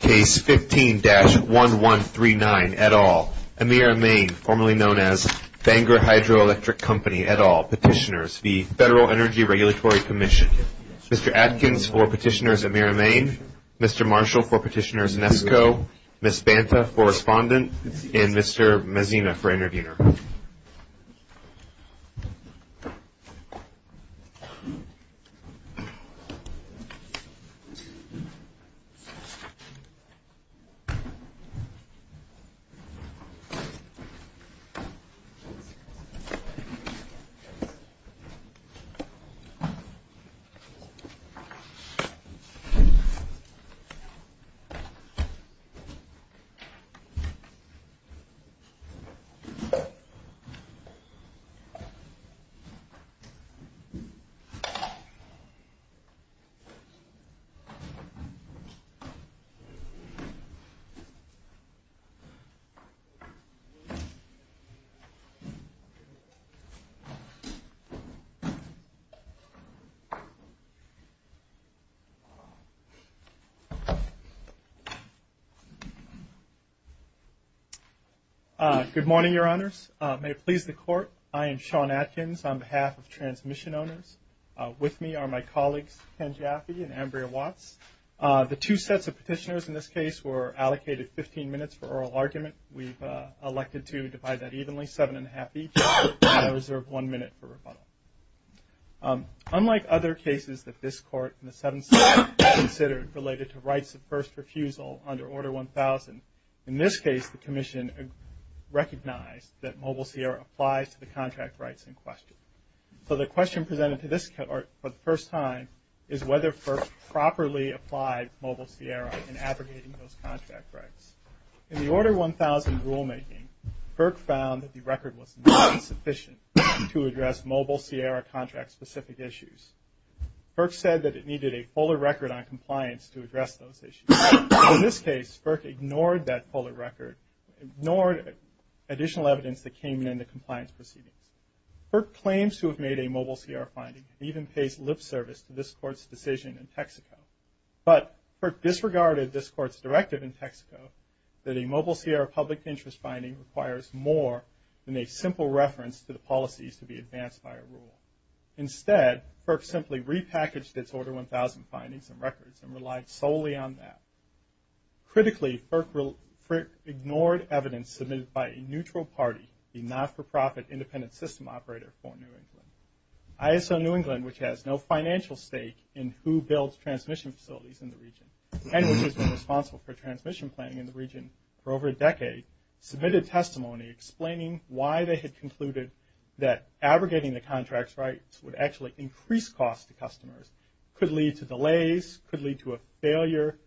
Case 15-1139, et al., Emera Maine, formerly known as Bangor Hydroelectric Company, et al., Petitioners, the Federal Energy Regulatory Commission. Mr. Adkins for Petitioners Emera Maine, Mr. Marshall for Petitioners Nesko, Ms. Banta for Respondent, and Mr. Mezina for Interviewer. Mr. Adkins for Petitioners Nesko, Ms. Banta for Interviewer. Good morning, Your Honors. May it please the Court, I am Sean Adkins on behalf of Transmission Owners. With me are my colleagues, Ken Jaffe and Ambria Watts. The two sets of petitioners in this case were allocated 15 minutes for oral argument. We've elected to divide that evenly, seven and a half each, and I reserve one minute for rebuttal. Unlike other cases that this Court and the 7th Circuit considered related to rights of first refusal under Order 1000, in this case the Commission recognized that Mobile Sierra applies to the contract rights in question. So the question presented to this Court for the first time is whether FERC properly applied Mobile Sierra in abrogating those contract rights. In the Order 1000 rulemaking, FERC found that the record was not sufficient to address Mobile Sierra contract-specific issues. FERC said that it needed a polar record on compliance to address those issues. In this case, FERC ignored that polar record, ignored additional evidence that came in the compliance proceedings. FERC claims to have made a Mobile Sierra finding and even pays lip service to this Court's decision in Texaco. But FERC disregarded this Court's directive in Texaco that a Mobile Sierra public interest finding requires more than a simple reference to the policies to be advanced by a rule. Instead, FERC simply repackaged its Order 1000 findings and records and relied solely on that. Critically, FERC ignored evidence submitted by a neutral party, a not-for-profit independent system operator for New England. ISO New England, which has no financial stake in who builds transmission facilities in the region, and which has been responsible for transmission planning in the region for over a decade, submitted testimony explaining why they had concluded that abrogating the contract's rights would actually increase cost to customers, could lead to delays, could lead to a failure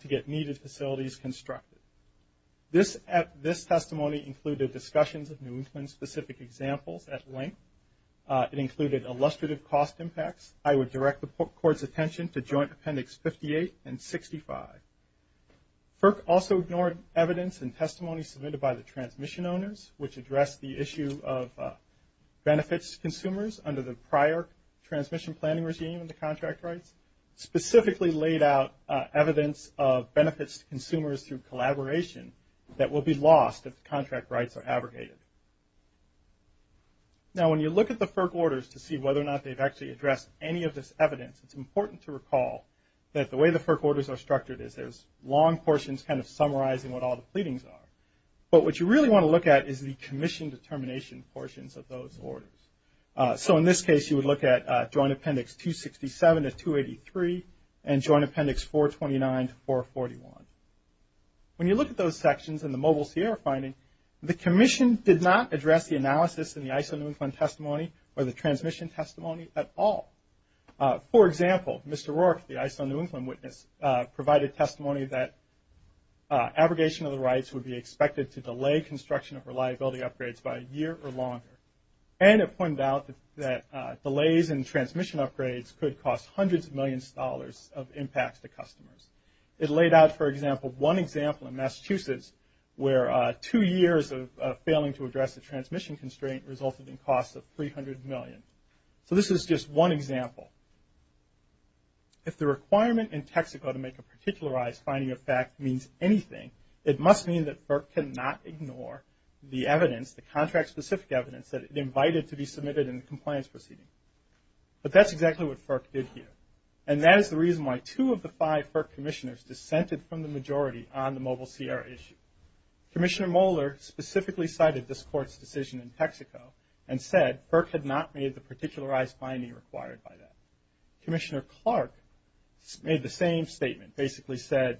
to get needed facilities constructed. This testimony included discussions of New England-specific examples at length. It included illustrative cost impacts. I would direct the Court's attention to Joint Appendix 58 and 65. FERC also ignored evidence and testimony submitted by the transmission owners, which addressed the issue of benefits to consumers under the prior transmission planning regime and the contract rights, specifically laid out evidence of benefits to consumers through collaboration that will be lost if the contract rights are abrogated. Now, when you look at the FERC Orders to see whether or not they've actually addressed any of this evidence, it's important to recall that the way the FERC Orders are structured is there's long portions kind of summarizing what all the pleadings are. But what you really want to look at is the commission determination portions of those orders. So in this case, you would look at Joint Appendix 267 to 283 and Joint Appendix 429 to 441. When you look at those sections in the Mobile Sierra finding, the commission did not address the analysis in the ISO New England testimony or the transmission testimony at all. For example, Mr. Rourke, the ISO New England witness, provided testimony that abrogation of the rights would be expected to delay construction of reliability upgrades by a year or longer. And it pointed out that delays in transmission upgrades could cost hundreds of millions of dollars of impact to customers. It laid out, for example, one example in Massachusetts, where two years of failing to address the transmission constraint resulted in costs of $300 million. So this is just one example. If the requirement in Texaco to make a particularized finding of fact means anything, it must mean that FERC cannot ignore the evidence, the contract-specific evidence, that it invited to be submitted in the compliance proceeding. But that's exactly what FERC did here. And that is the reason why two of the five FERC commissioners dissented from the majority on the Mobile Sierra issue. Commissioner Moeller specifically cited this Court's decision in Texaco and said FERC had not made the particularized finding required by that. Commissioner Clark made the same statement, basically said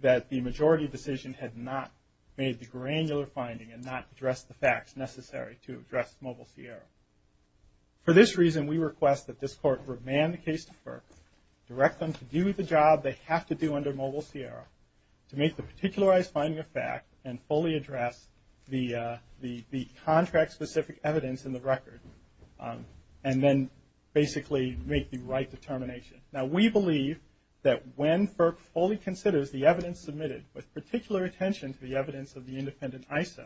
that the majority decision had not made the granular finding and not addressed the facts necessary to address Mobile Sierra. For this reason, we request that this Court remand the case to FERC, direct them to do the job they have to do under Mobile Sierra to make the particularized finding a fact and fully address the contract-specific evidence in the record and then basically make the right determination. Now we believe that when FERC fully considers the evidence submitted with particular attention to the evidence of the independent ISO,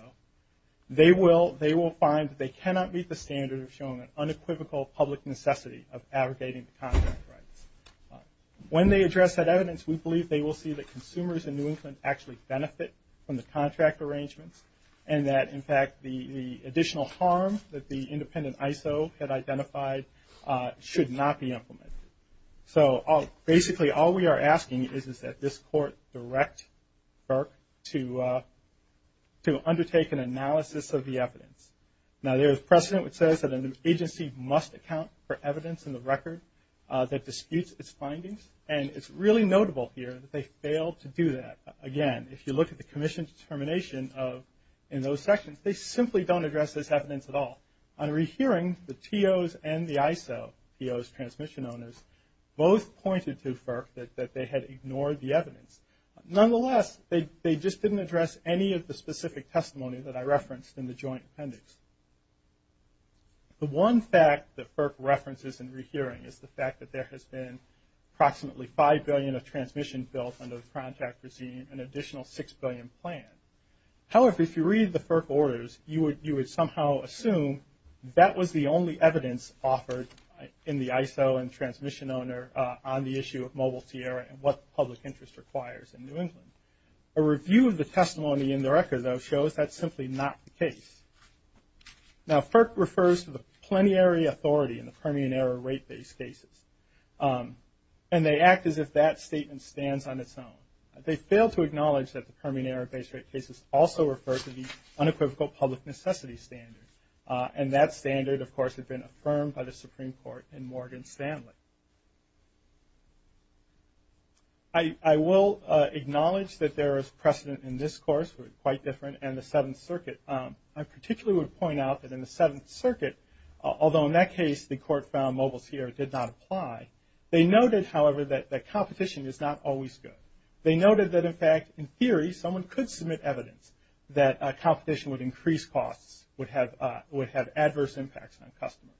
they will find that they cannot meet the standard of showing an unequivocal public necessity of abrogating the contract rights. When they address that evidence, we believe they will see that consumers in New England actually benefit from the contract arrangements and that in fact the additional harm that the independent ISO had identified should not be implemented. So basically all we are asking is that this Court direct FERC to undertake an analysis of the evidence. Now there is precedent which says that an agency must account for evidence in the record that disputes its findings. And it's really notable here that they failed to do that. Again, if you look at the Commission's determination in those sections, they simply don't address this evidence at all. On rehearing, the TOs and the ISO, TOs, transmission owners, both pointed to FERC that they had ignored the evidence. Nonetheless, they just didn't address any of the specific testimony that I referenced in the joint appendix. The one fact that FERC references in rehearing is the fact that there has been approximately $5 billion of transmission bills under the contract regime, an additional $6 billion planned. However, if you read the FERC orders, you would somehow assume that was the only evidence offered in the ISO and transmission owner on the issue of mobile tiara and what public interest requires in New England. A review of the testimony in the record, though, shows that's simply not the case. Now FERC refers to the plenary authority in the Permian Era rate-based cases, and they act as if that statement stands on its own. They failed to acknowledge that the Permian Era rate-based cases also refer to the unequivocal public necessity standard, and that standard, of course, had been affirmed by the Supreme Court in Morgan Stanley. I will acknowledge that there is precedent in this course, which is quite different, and the Seventh Circuit. I particularly would point out that in the Seventh Circuit, although in that case the court found mobile tiara did not apply, they noted, however, that competition is not always good. They noted that, in fact, in theory, someone could submit evidence that competition would increase costs, would have adverse impacts on customers.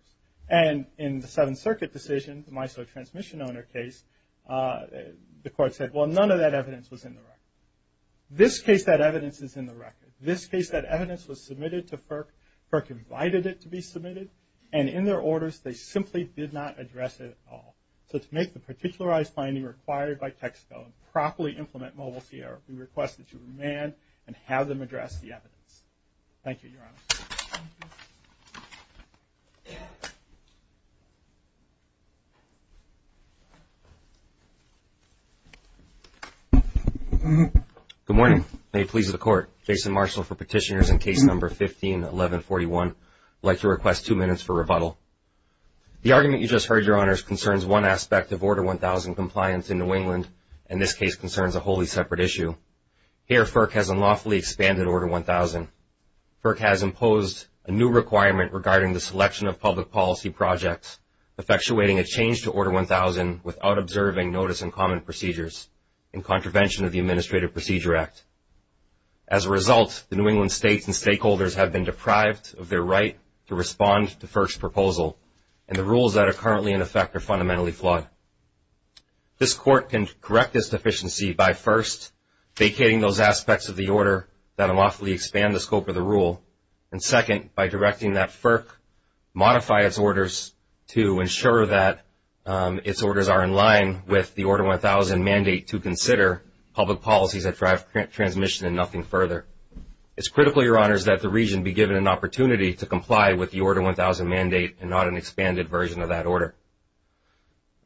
And in the Seventh Circuit decision, the MISO transmission owner case, the court said, well, none of that evidence was in the record. This case, that evidence is in the record. This case, that evidence was submitted to FERC. FERC invited it to be submitted, and in their orders, they simply did not address it at all. So to make the particularized finding required by Texaco and properly implement mobile tiara, we request that you remand and have them address the evidence. Thank you, Your Honor. Thank you. Good morning. May it please the Court, Jason Marshall for Petitioners in Case Number 15-1141. I'd like to request two minutes for rebuttal. The argument you just heard, Your Honors, concerns one aspect of Order 1000 compliance in New England, and this case concerns a wholly separate issue. Here, FERC has unlawfully expanded Order 1000. FERC has imposed a new requirement regarding the selection of public policy projects, effectuating a change to Order 1000 without observing notice and common procedures in contravention of the Administrative Procedure Act. As a result, the New England states and stakeholders have been deprived of their right to respond to FERC's proposal, and the rules that are currently in effect are fundamentally flawed. This Court can correct this deficiency by first vacating those aspects of the order that unlawfully expand the scope of the rule, and second, by directing that FERC modify its orders to ensure that its orders are in line with the Order 1000 mandate to consider public policies that drive transmission and nothing further. It's critical, Your Honors, that the region be given an opportunity to comply with the Order 1000 mandate and not an expanded version of that order.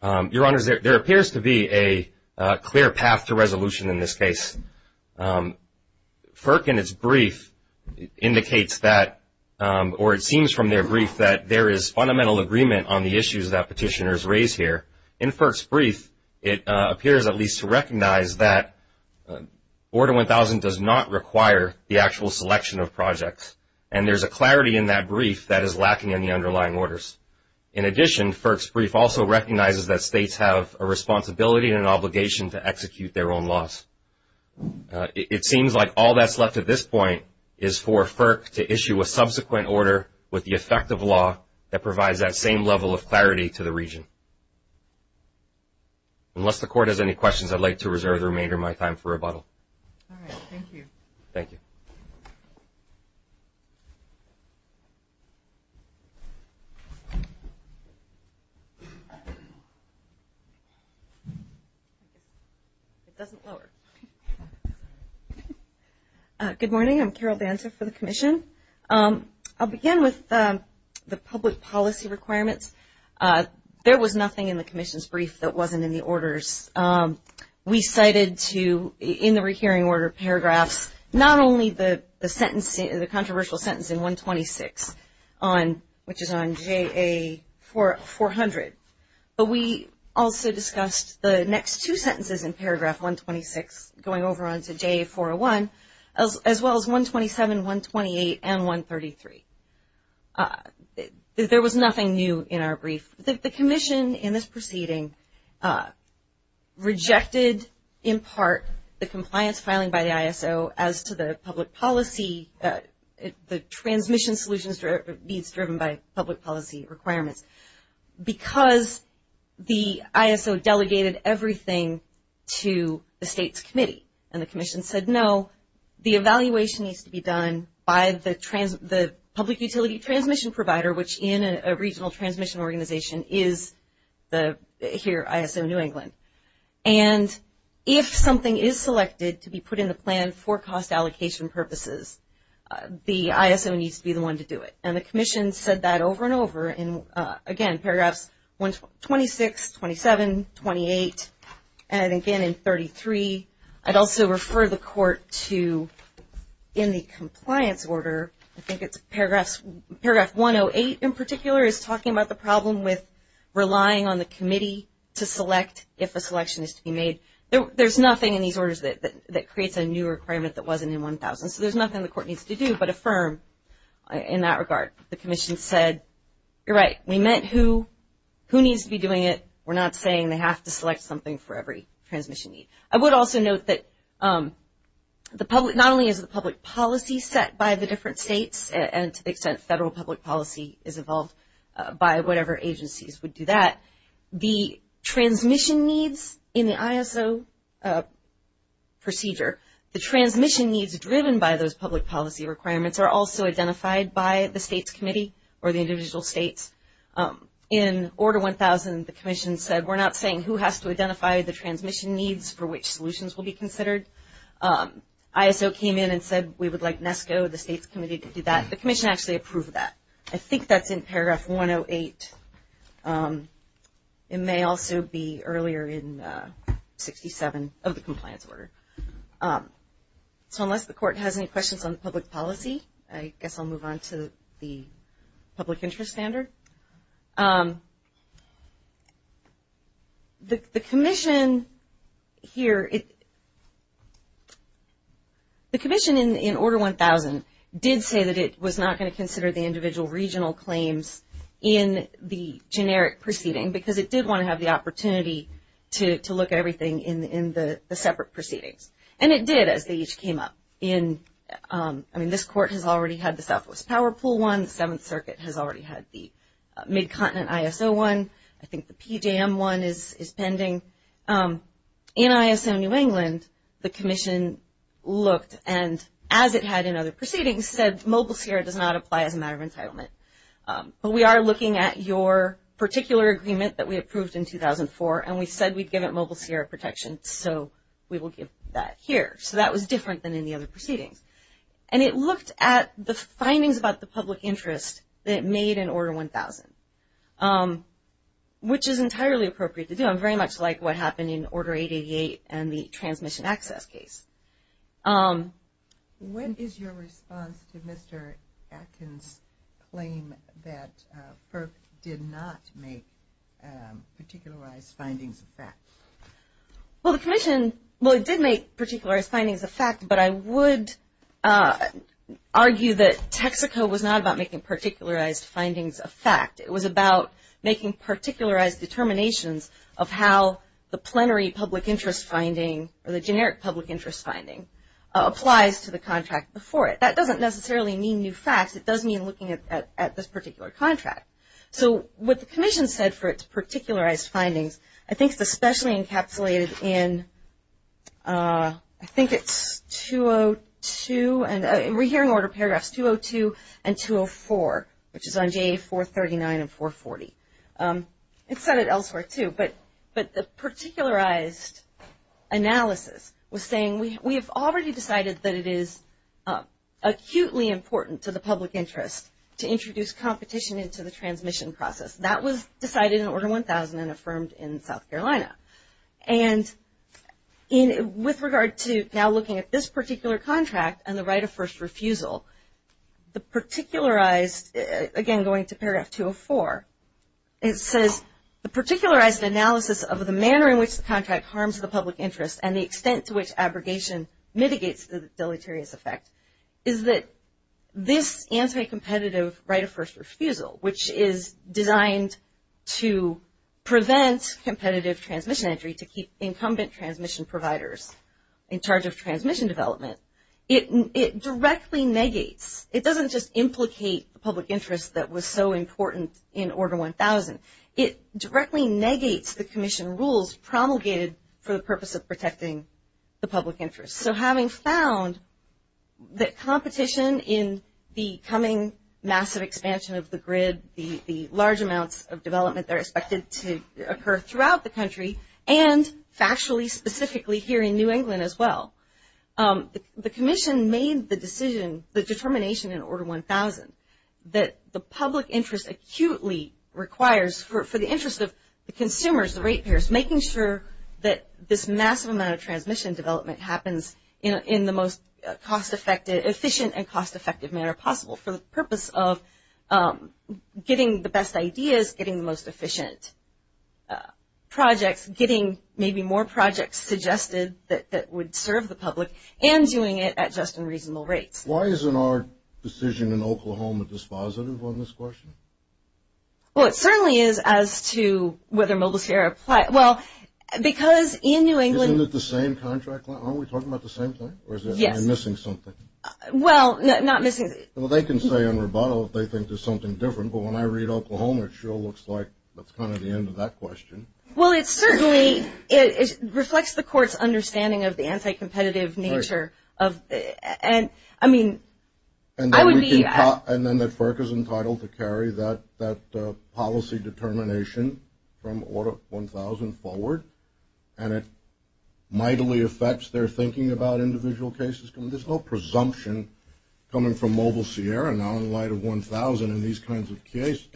Your Honors, there appears to be a clear path to resolution in this case. FERC in its brief indicates that, or it seems from their brief, that there is fundamental agreement on the issues that petitioners raise here. In FERC's brief, it appears at least to recognize that Order 1000 does not require the actual selection of projects, and there's a clarity in that brief that is lacking in the underlying orders. In addition, FERC's brief also recognizes that states have a responsibility and an obligation to execute their own laws. It seems like all that's left at this point is for FERC to issue a subsequent order with the effect of law that provides that same level of clarity to the region. Unless the Court has any questions, I'd like to reserve the remainder of my time for rebuttal. All right, thank you. Thank you. Good morning. I'm Carol Banta for the Commission. I'll begin with the public policy requirements. There was nothing in the Commission's brief that wasn't in the orders. We cited to, in the rehearing order paragraphs, not only the controversial sentence in 126, which is on JA-400, but we also discussed the next two sentences in paragraph 126 going over onto JA-401, as well as 127, 128, and 133. There was nothing new in our brief. The Commission in this proceeding rejected, in part, the compliance filing by the ISO as to the public policy, the transmission solutions needs driven by public policy requirements, because the ISO delegated everything to the state's committee. And the Commission said, no, the evaluation needs to be done by the public utility transmission provider, which in a regional transmission organization is the, here, ISO New England. And if something is selected to be put in the plan for cost allocation purposes, the ISO needs to be the one to do it. And the Commission said that over and over in, again, paragraphs 126, 27, 28, and again in 33. I'd also refer the Court to, in the compliance order, I think it's paragraph 108 in particular, is talking about the problem with relying on the committee to select if a selection is to be made. There's nothing in these orders that creates a new requirement that wasn't in 1000. So there's nothing the Court needs to do but affirm in that regard. The Commission said, you're right, we meant who needs to be doing it. We're not saying they have to select something for every transmission need. I would also note that the public, not only is the public policy set by the different states, and to the extent federal public policy is evolved by whatever agencies would do that, the transmission needs in the ISO procedure, the transmission needs driven by those public policy requirements are also identified by the state's committee or the individual states. In Order 1000, the Commission said we're not saying who has to identify the transmission needs for which solutions will be considered. ISO came in and said we would like NESCO, the state's committee, to do that. The Commission actually approved that. I think that's in paragraph 108. It may also be earlier in 67 of the compliance order. So unless the Court has any questions on public policy, I guess I'll move on to the public interest standard. The Commission here, the Commission in Order 1000 did say that it was not going to consider the individual regional claims in the generic proceeding because it did want to have the opportunity to look at everything in the separate proceedings. And it did as they each came up. I mean, this Court has already had the Southwest Power Pool one. The Seventh Circuit has already had the Mid-Continent ISO one. I think the PJM one is pending. In ISO New England, the Commission looked and, as it had in other proceedings, said Mobile Sierra does not apply as a matter of entitlement. But we are looking at your particular agreement that we approved in 2004, and we said we'd give it Mobile Sierra protection, so we will give that here. So that was different than in the other proceedings. And it looked at the findings about the public interest that it made in Order 1000, which is entirely appropriate to do. I'm very much like what happened in Order 888 and the transmission access case. What is your response to Mr. Atkins' claim that FERC did not make particularized findings of that? Well, the Commission, well, it did make particularized findings of fact, but I would argue that Texaco was not about making particularized findings of fact. It was about making particularized determinations of how the plenary public interest finding or the generic public interest finding applies to the contract before it. That doesn't necessarily mean new facts. It does mean looking at this particular contract. So what the Commission said for its particularized findings, I think it's especially encapsulated in I think it's 202, and we're hearing order paragraphs 202 and 204, which is on JA 439 and 440. It said it elsewhere, too, but the particularized analysis was saying we have already decided that it is acutely important to the public interest to introduce competition into the transmission process. That was decided in Order 1000 and affirmed in South Carolina. And with regard to now looking at this particular contract and the right of first refusal, the particularized, again going to paragraph 204, it says the particularized analysis of the manner in which the contract harms the public interest and the extent to which abrogation mitigates the deleterious effect is that this anti-competitive right of first refusal, which is designed to prevent competitive transmission entry to keep incumbent transmission providers in charge of transmission development, it directly negates, it doesn't just implicate the public interest that was so important in Order 1000. It directly negates the Commission rules promulgated for the purpose of protecting the public interest. So having found that competition in the coming massive expansion of the grid, the large amounts of development that are expected to occur throughout the country and factually specifically here in New England as well, the Commission made the decision, the determination in Order 1000 that the public interest acutely requires for the interest of the consumers, the rate payers, making sure that this massive amount of transmission development happens in the most cost-effective, efficient and cost-effective manner possible for the purpose of getting the best ideas, getting the most efficient projects, getting maybe more projects suggested that would serve the public and doing it at just and reasonable rates. Why isn't our decision in Oklahoma dispositive on this question? Well, it certainly is as to whether MobileSphere applies. Well, because in New England... Isn't it the same contract? Aren't we talking about the same thing? Yes. Or am I missing something? Well, not missing... Well, they can say in rebuttal if they think there's something different. But when I read Oklahoma, it sure looks like that's kind of the end of that question. Well, it certainly reflects the Court's understanding of the anti-competitive nature of... And then the FERC is entitled to carry that policy determination from order 1000 forward, and it mightily affects their thinking about individual cases. There's no presumption coming from MobileSphere now in light of 1000 in these kinds of cases.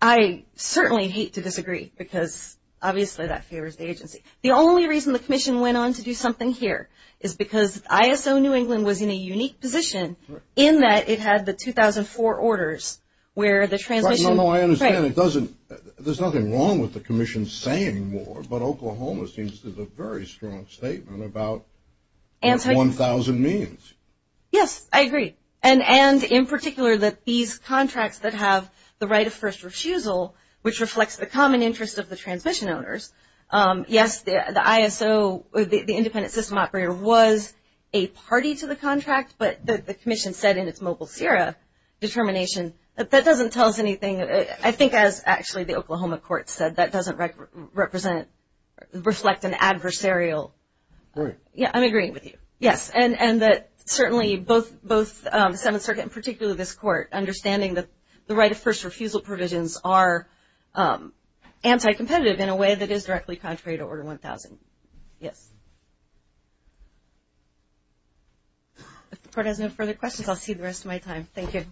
I certainly hate to disagree because obviously that favors the agency. The only reason the Commission went on to do something here is because ISO New England was in a unique position in that it had the 2004 orders where the transmission... No, no, I understand. There's nothing wrong with the Commission saying more, but Oklahoma seems to have a very strong statement about what 1000 means. Yes, I agree. And in particular that these contracts that have the right of first refusal, which reflects the common interest of the transmission owners, yes, the ISO, the independent system operator, was a party to the contract, but the Commission said in its MobileSphere determination that that doesn't tell us anything. I think, as actually the Oklahoma Court said, that doesn't reflect an adversarial... Right. Yeah, I'm agreeing with you. Yes, and that certainly both the Seventh Circuit, and particularly this Court, understanding that the right of first refusal provisions are anti-competitive in a way that is directly contrary to Order 1000. Yes. If the Court has no further questions, I'll see you the rest of my time. Thank you.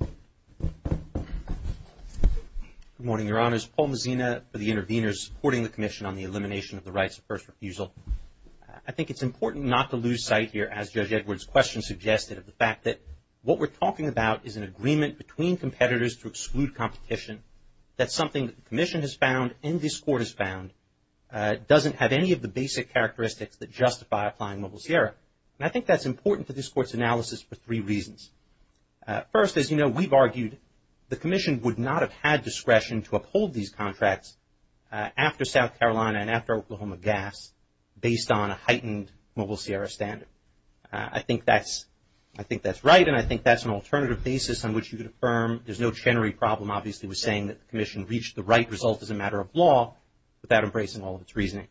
Good morning, Your Honors. Paul Mazzina for the Intervenors, supporting the Commission on the Elimination of the Rights of First Refusal. I think it's important not to lose sight here, as Judge Edwards' question suggested, of the fact that what we're talking about is an agreement between competitors to exclude competition. That's something that the Commission has found, and this Court has found, doesn't have any of the basic characteristics that justify applying MobileSphere. And I think that's important to this Court's analysis for three reasons. First, as you know, we've argued the Commission would not have had discretion to uphold these contracts after South Carolina and after Oklahoma gas, based on a heightened Mobile Sierra standard. I think that's right, and I think that's an alternative basis on which you could affirm. There's no Chenery problem, obviously, with saying that the Commission reached the right result as a matter of law, without embracing all of its reasoning.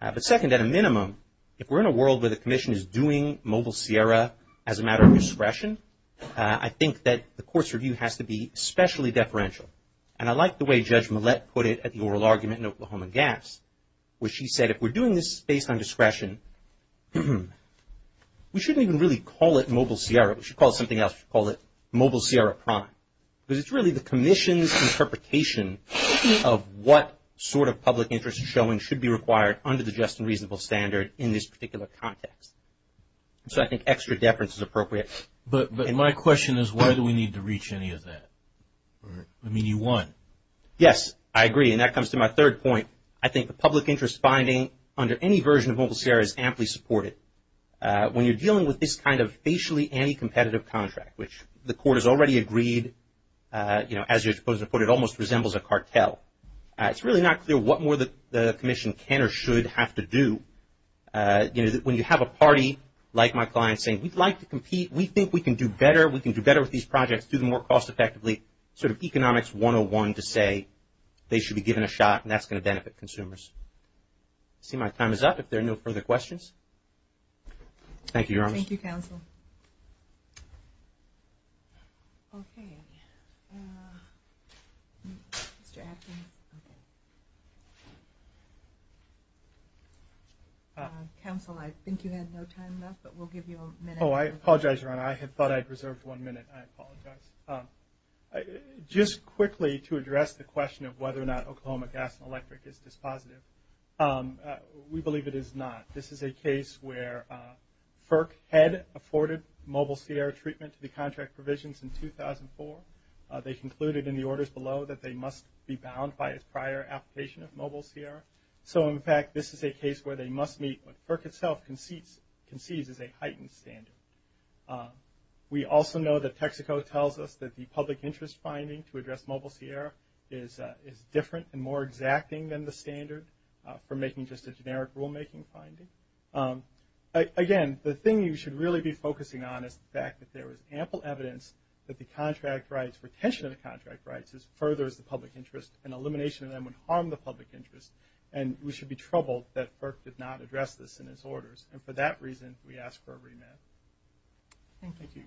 But second, at a minimum, if we're in a world where the Commission is doing Mobile Sierra as a matter of discretion, I think that the Court's review has to be especially deferential. And I like the way Judge Millett put it at the oral argument in Oklahoma gas, where she said if we're doing this based on discretion, we shouldn't even really call it Mobile Sierra. We should call it something else. We should call it Mobile Sierra Prime. Because it's really the Commission's interpretation of what sort of public interest showing should be required under the just and reasonable standard in this particular context. So I think extra deference is appropriate. But my question is why do we need to reach any of that? I mean, you won. Yes, I agree, and that comes to my third point. I think the public interest finding under any version of Mobile Sierra is amply supported. When you're dealing with this kind of facially anti-competitive contract, which the Court has already agreed, as you're supposed to put it, almost resembles a cartel, it's really not clear what more the Commission can or should have to do. You know, when you have a party like my client saying, we'd like to compete, we think we can do better, we can do better with these projects, do them more cost effectively, sort of economics 101 to say they should be given a shot and that's going to benefit consumers. I see my time is up. If there are no further questions. Thank you, Your Honors. Thank you, Counsel. Okay. Okay. Mr. Atkin. Counsel, I think you had no time left, but we'll give you a minute. Oh, I apologize, Your Honor. I thought I had reserved one minute. I apologize. Just quickly to address the question of whether or not Oklahoma Gas and Electric is dispositive, we believe it is not. This is a case where FERC had afforded Mobile Sierra treatment to the contract provisions in 2004. They concluded in the orders below that they must be bound by a prior application of Mobile Sierra. So, in fact, this is a case where they must meet what FERC itself concedes is a heightened standard. We also know that Texaco tells us that the public interest finding to address Mobile Sierra is different and more exacting than the standard for making just a generic rulemaking finding. Again, the thing you should really be focusing on is the fact that there is ample evidence that the contract rights, retention of the contract rights, furthers the public interest, and elimination of them would harm the public interest. And we should be troubled that FERC did not address this in its orders. And for that reason, we ask for a remand. Thank you.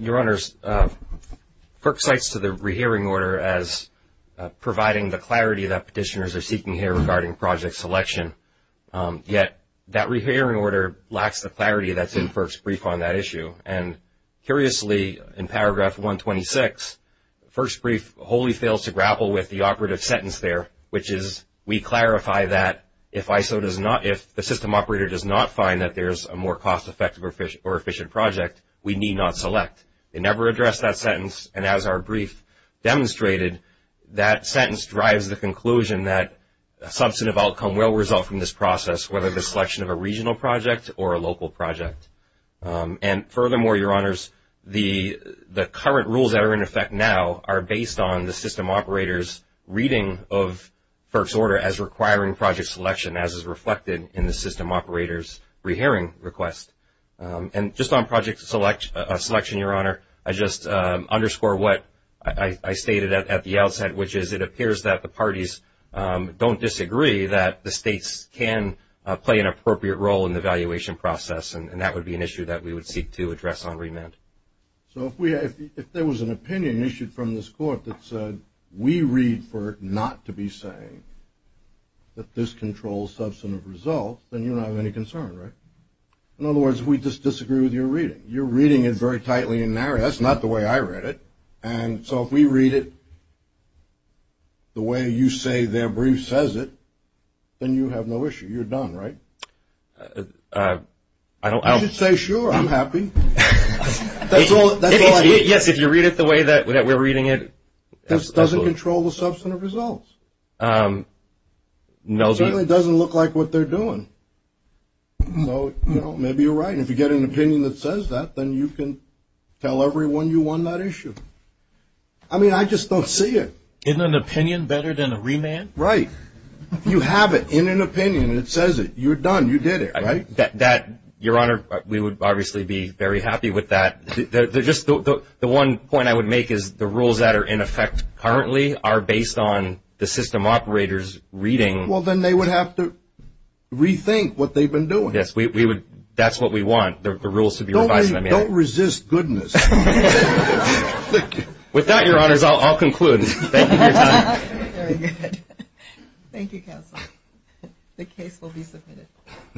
Your Honors, FERC cites the rehearing order as providing the clarity that petitioners are seeking here regarding project selection. Yet that rehearing order lacks the clarity that's in FERC's brief on that issue. And curiously, in paragraph 126, the first brief wholly fails to grapple with the operative sentence there, which is we clarify that if the system operator does not find that there is a more cost-effective or efficient project, we need not select. It never addressed that sentence. And as our brief demonstrated, that sentence drives the conclusion that a substantive outcome will result from this process, whether the selection of a regional project or a local project. And furthermore, Your Honors, the current rules that are in effect now are based on the system operator's reading of FERC's order as requiring project selection as is reflected in the system operator's rehearing request. And just on project selection, Your Honor, I just underscore what I stated at the outset, which is it appears that the parties don't disagree that the states can play an appropriate role in the valuation process. And that would be an issue that we would seek to address on remand. So if there was an opinion issued from this court that said we read for it not to be saying that this controls substantive results, then you don't have any concern, right? In other words, we just disagree with your reading. You're reading it very tightly and narrowly. That's not the way I read it. And so if we read it the way you say their brief says it, then you have no issue. You're done, right? You should say, sure, I'm happy. Yes, if you read it the way that we're reading it. It doesn't control the substantive results. It certainly doesn't look like what they're doing. Maybe you're right. If you get an opinion that says that, then you can tell everyone you won that issue. I mean, I just don't see it. Isn't an opinion better than a remand? Right. You have it in an opinion that says it. You're done. You did it, right? Your Honor, we would obviously be very happy with that. The one point I would make is the rules that are in effect currently are based on the system operator's reading. Well, then they would have to rethink what they've been doing. Yes, that's what we want, the rules to be revised. Don't resist goodness. With that, Your Honors, I'll conclude. Thank you for your time. Very good. Thank you, Counsel. The case will be submitted.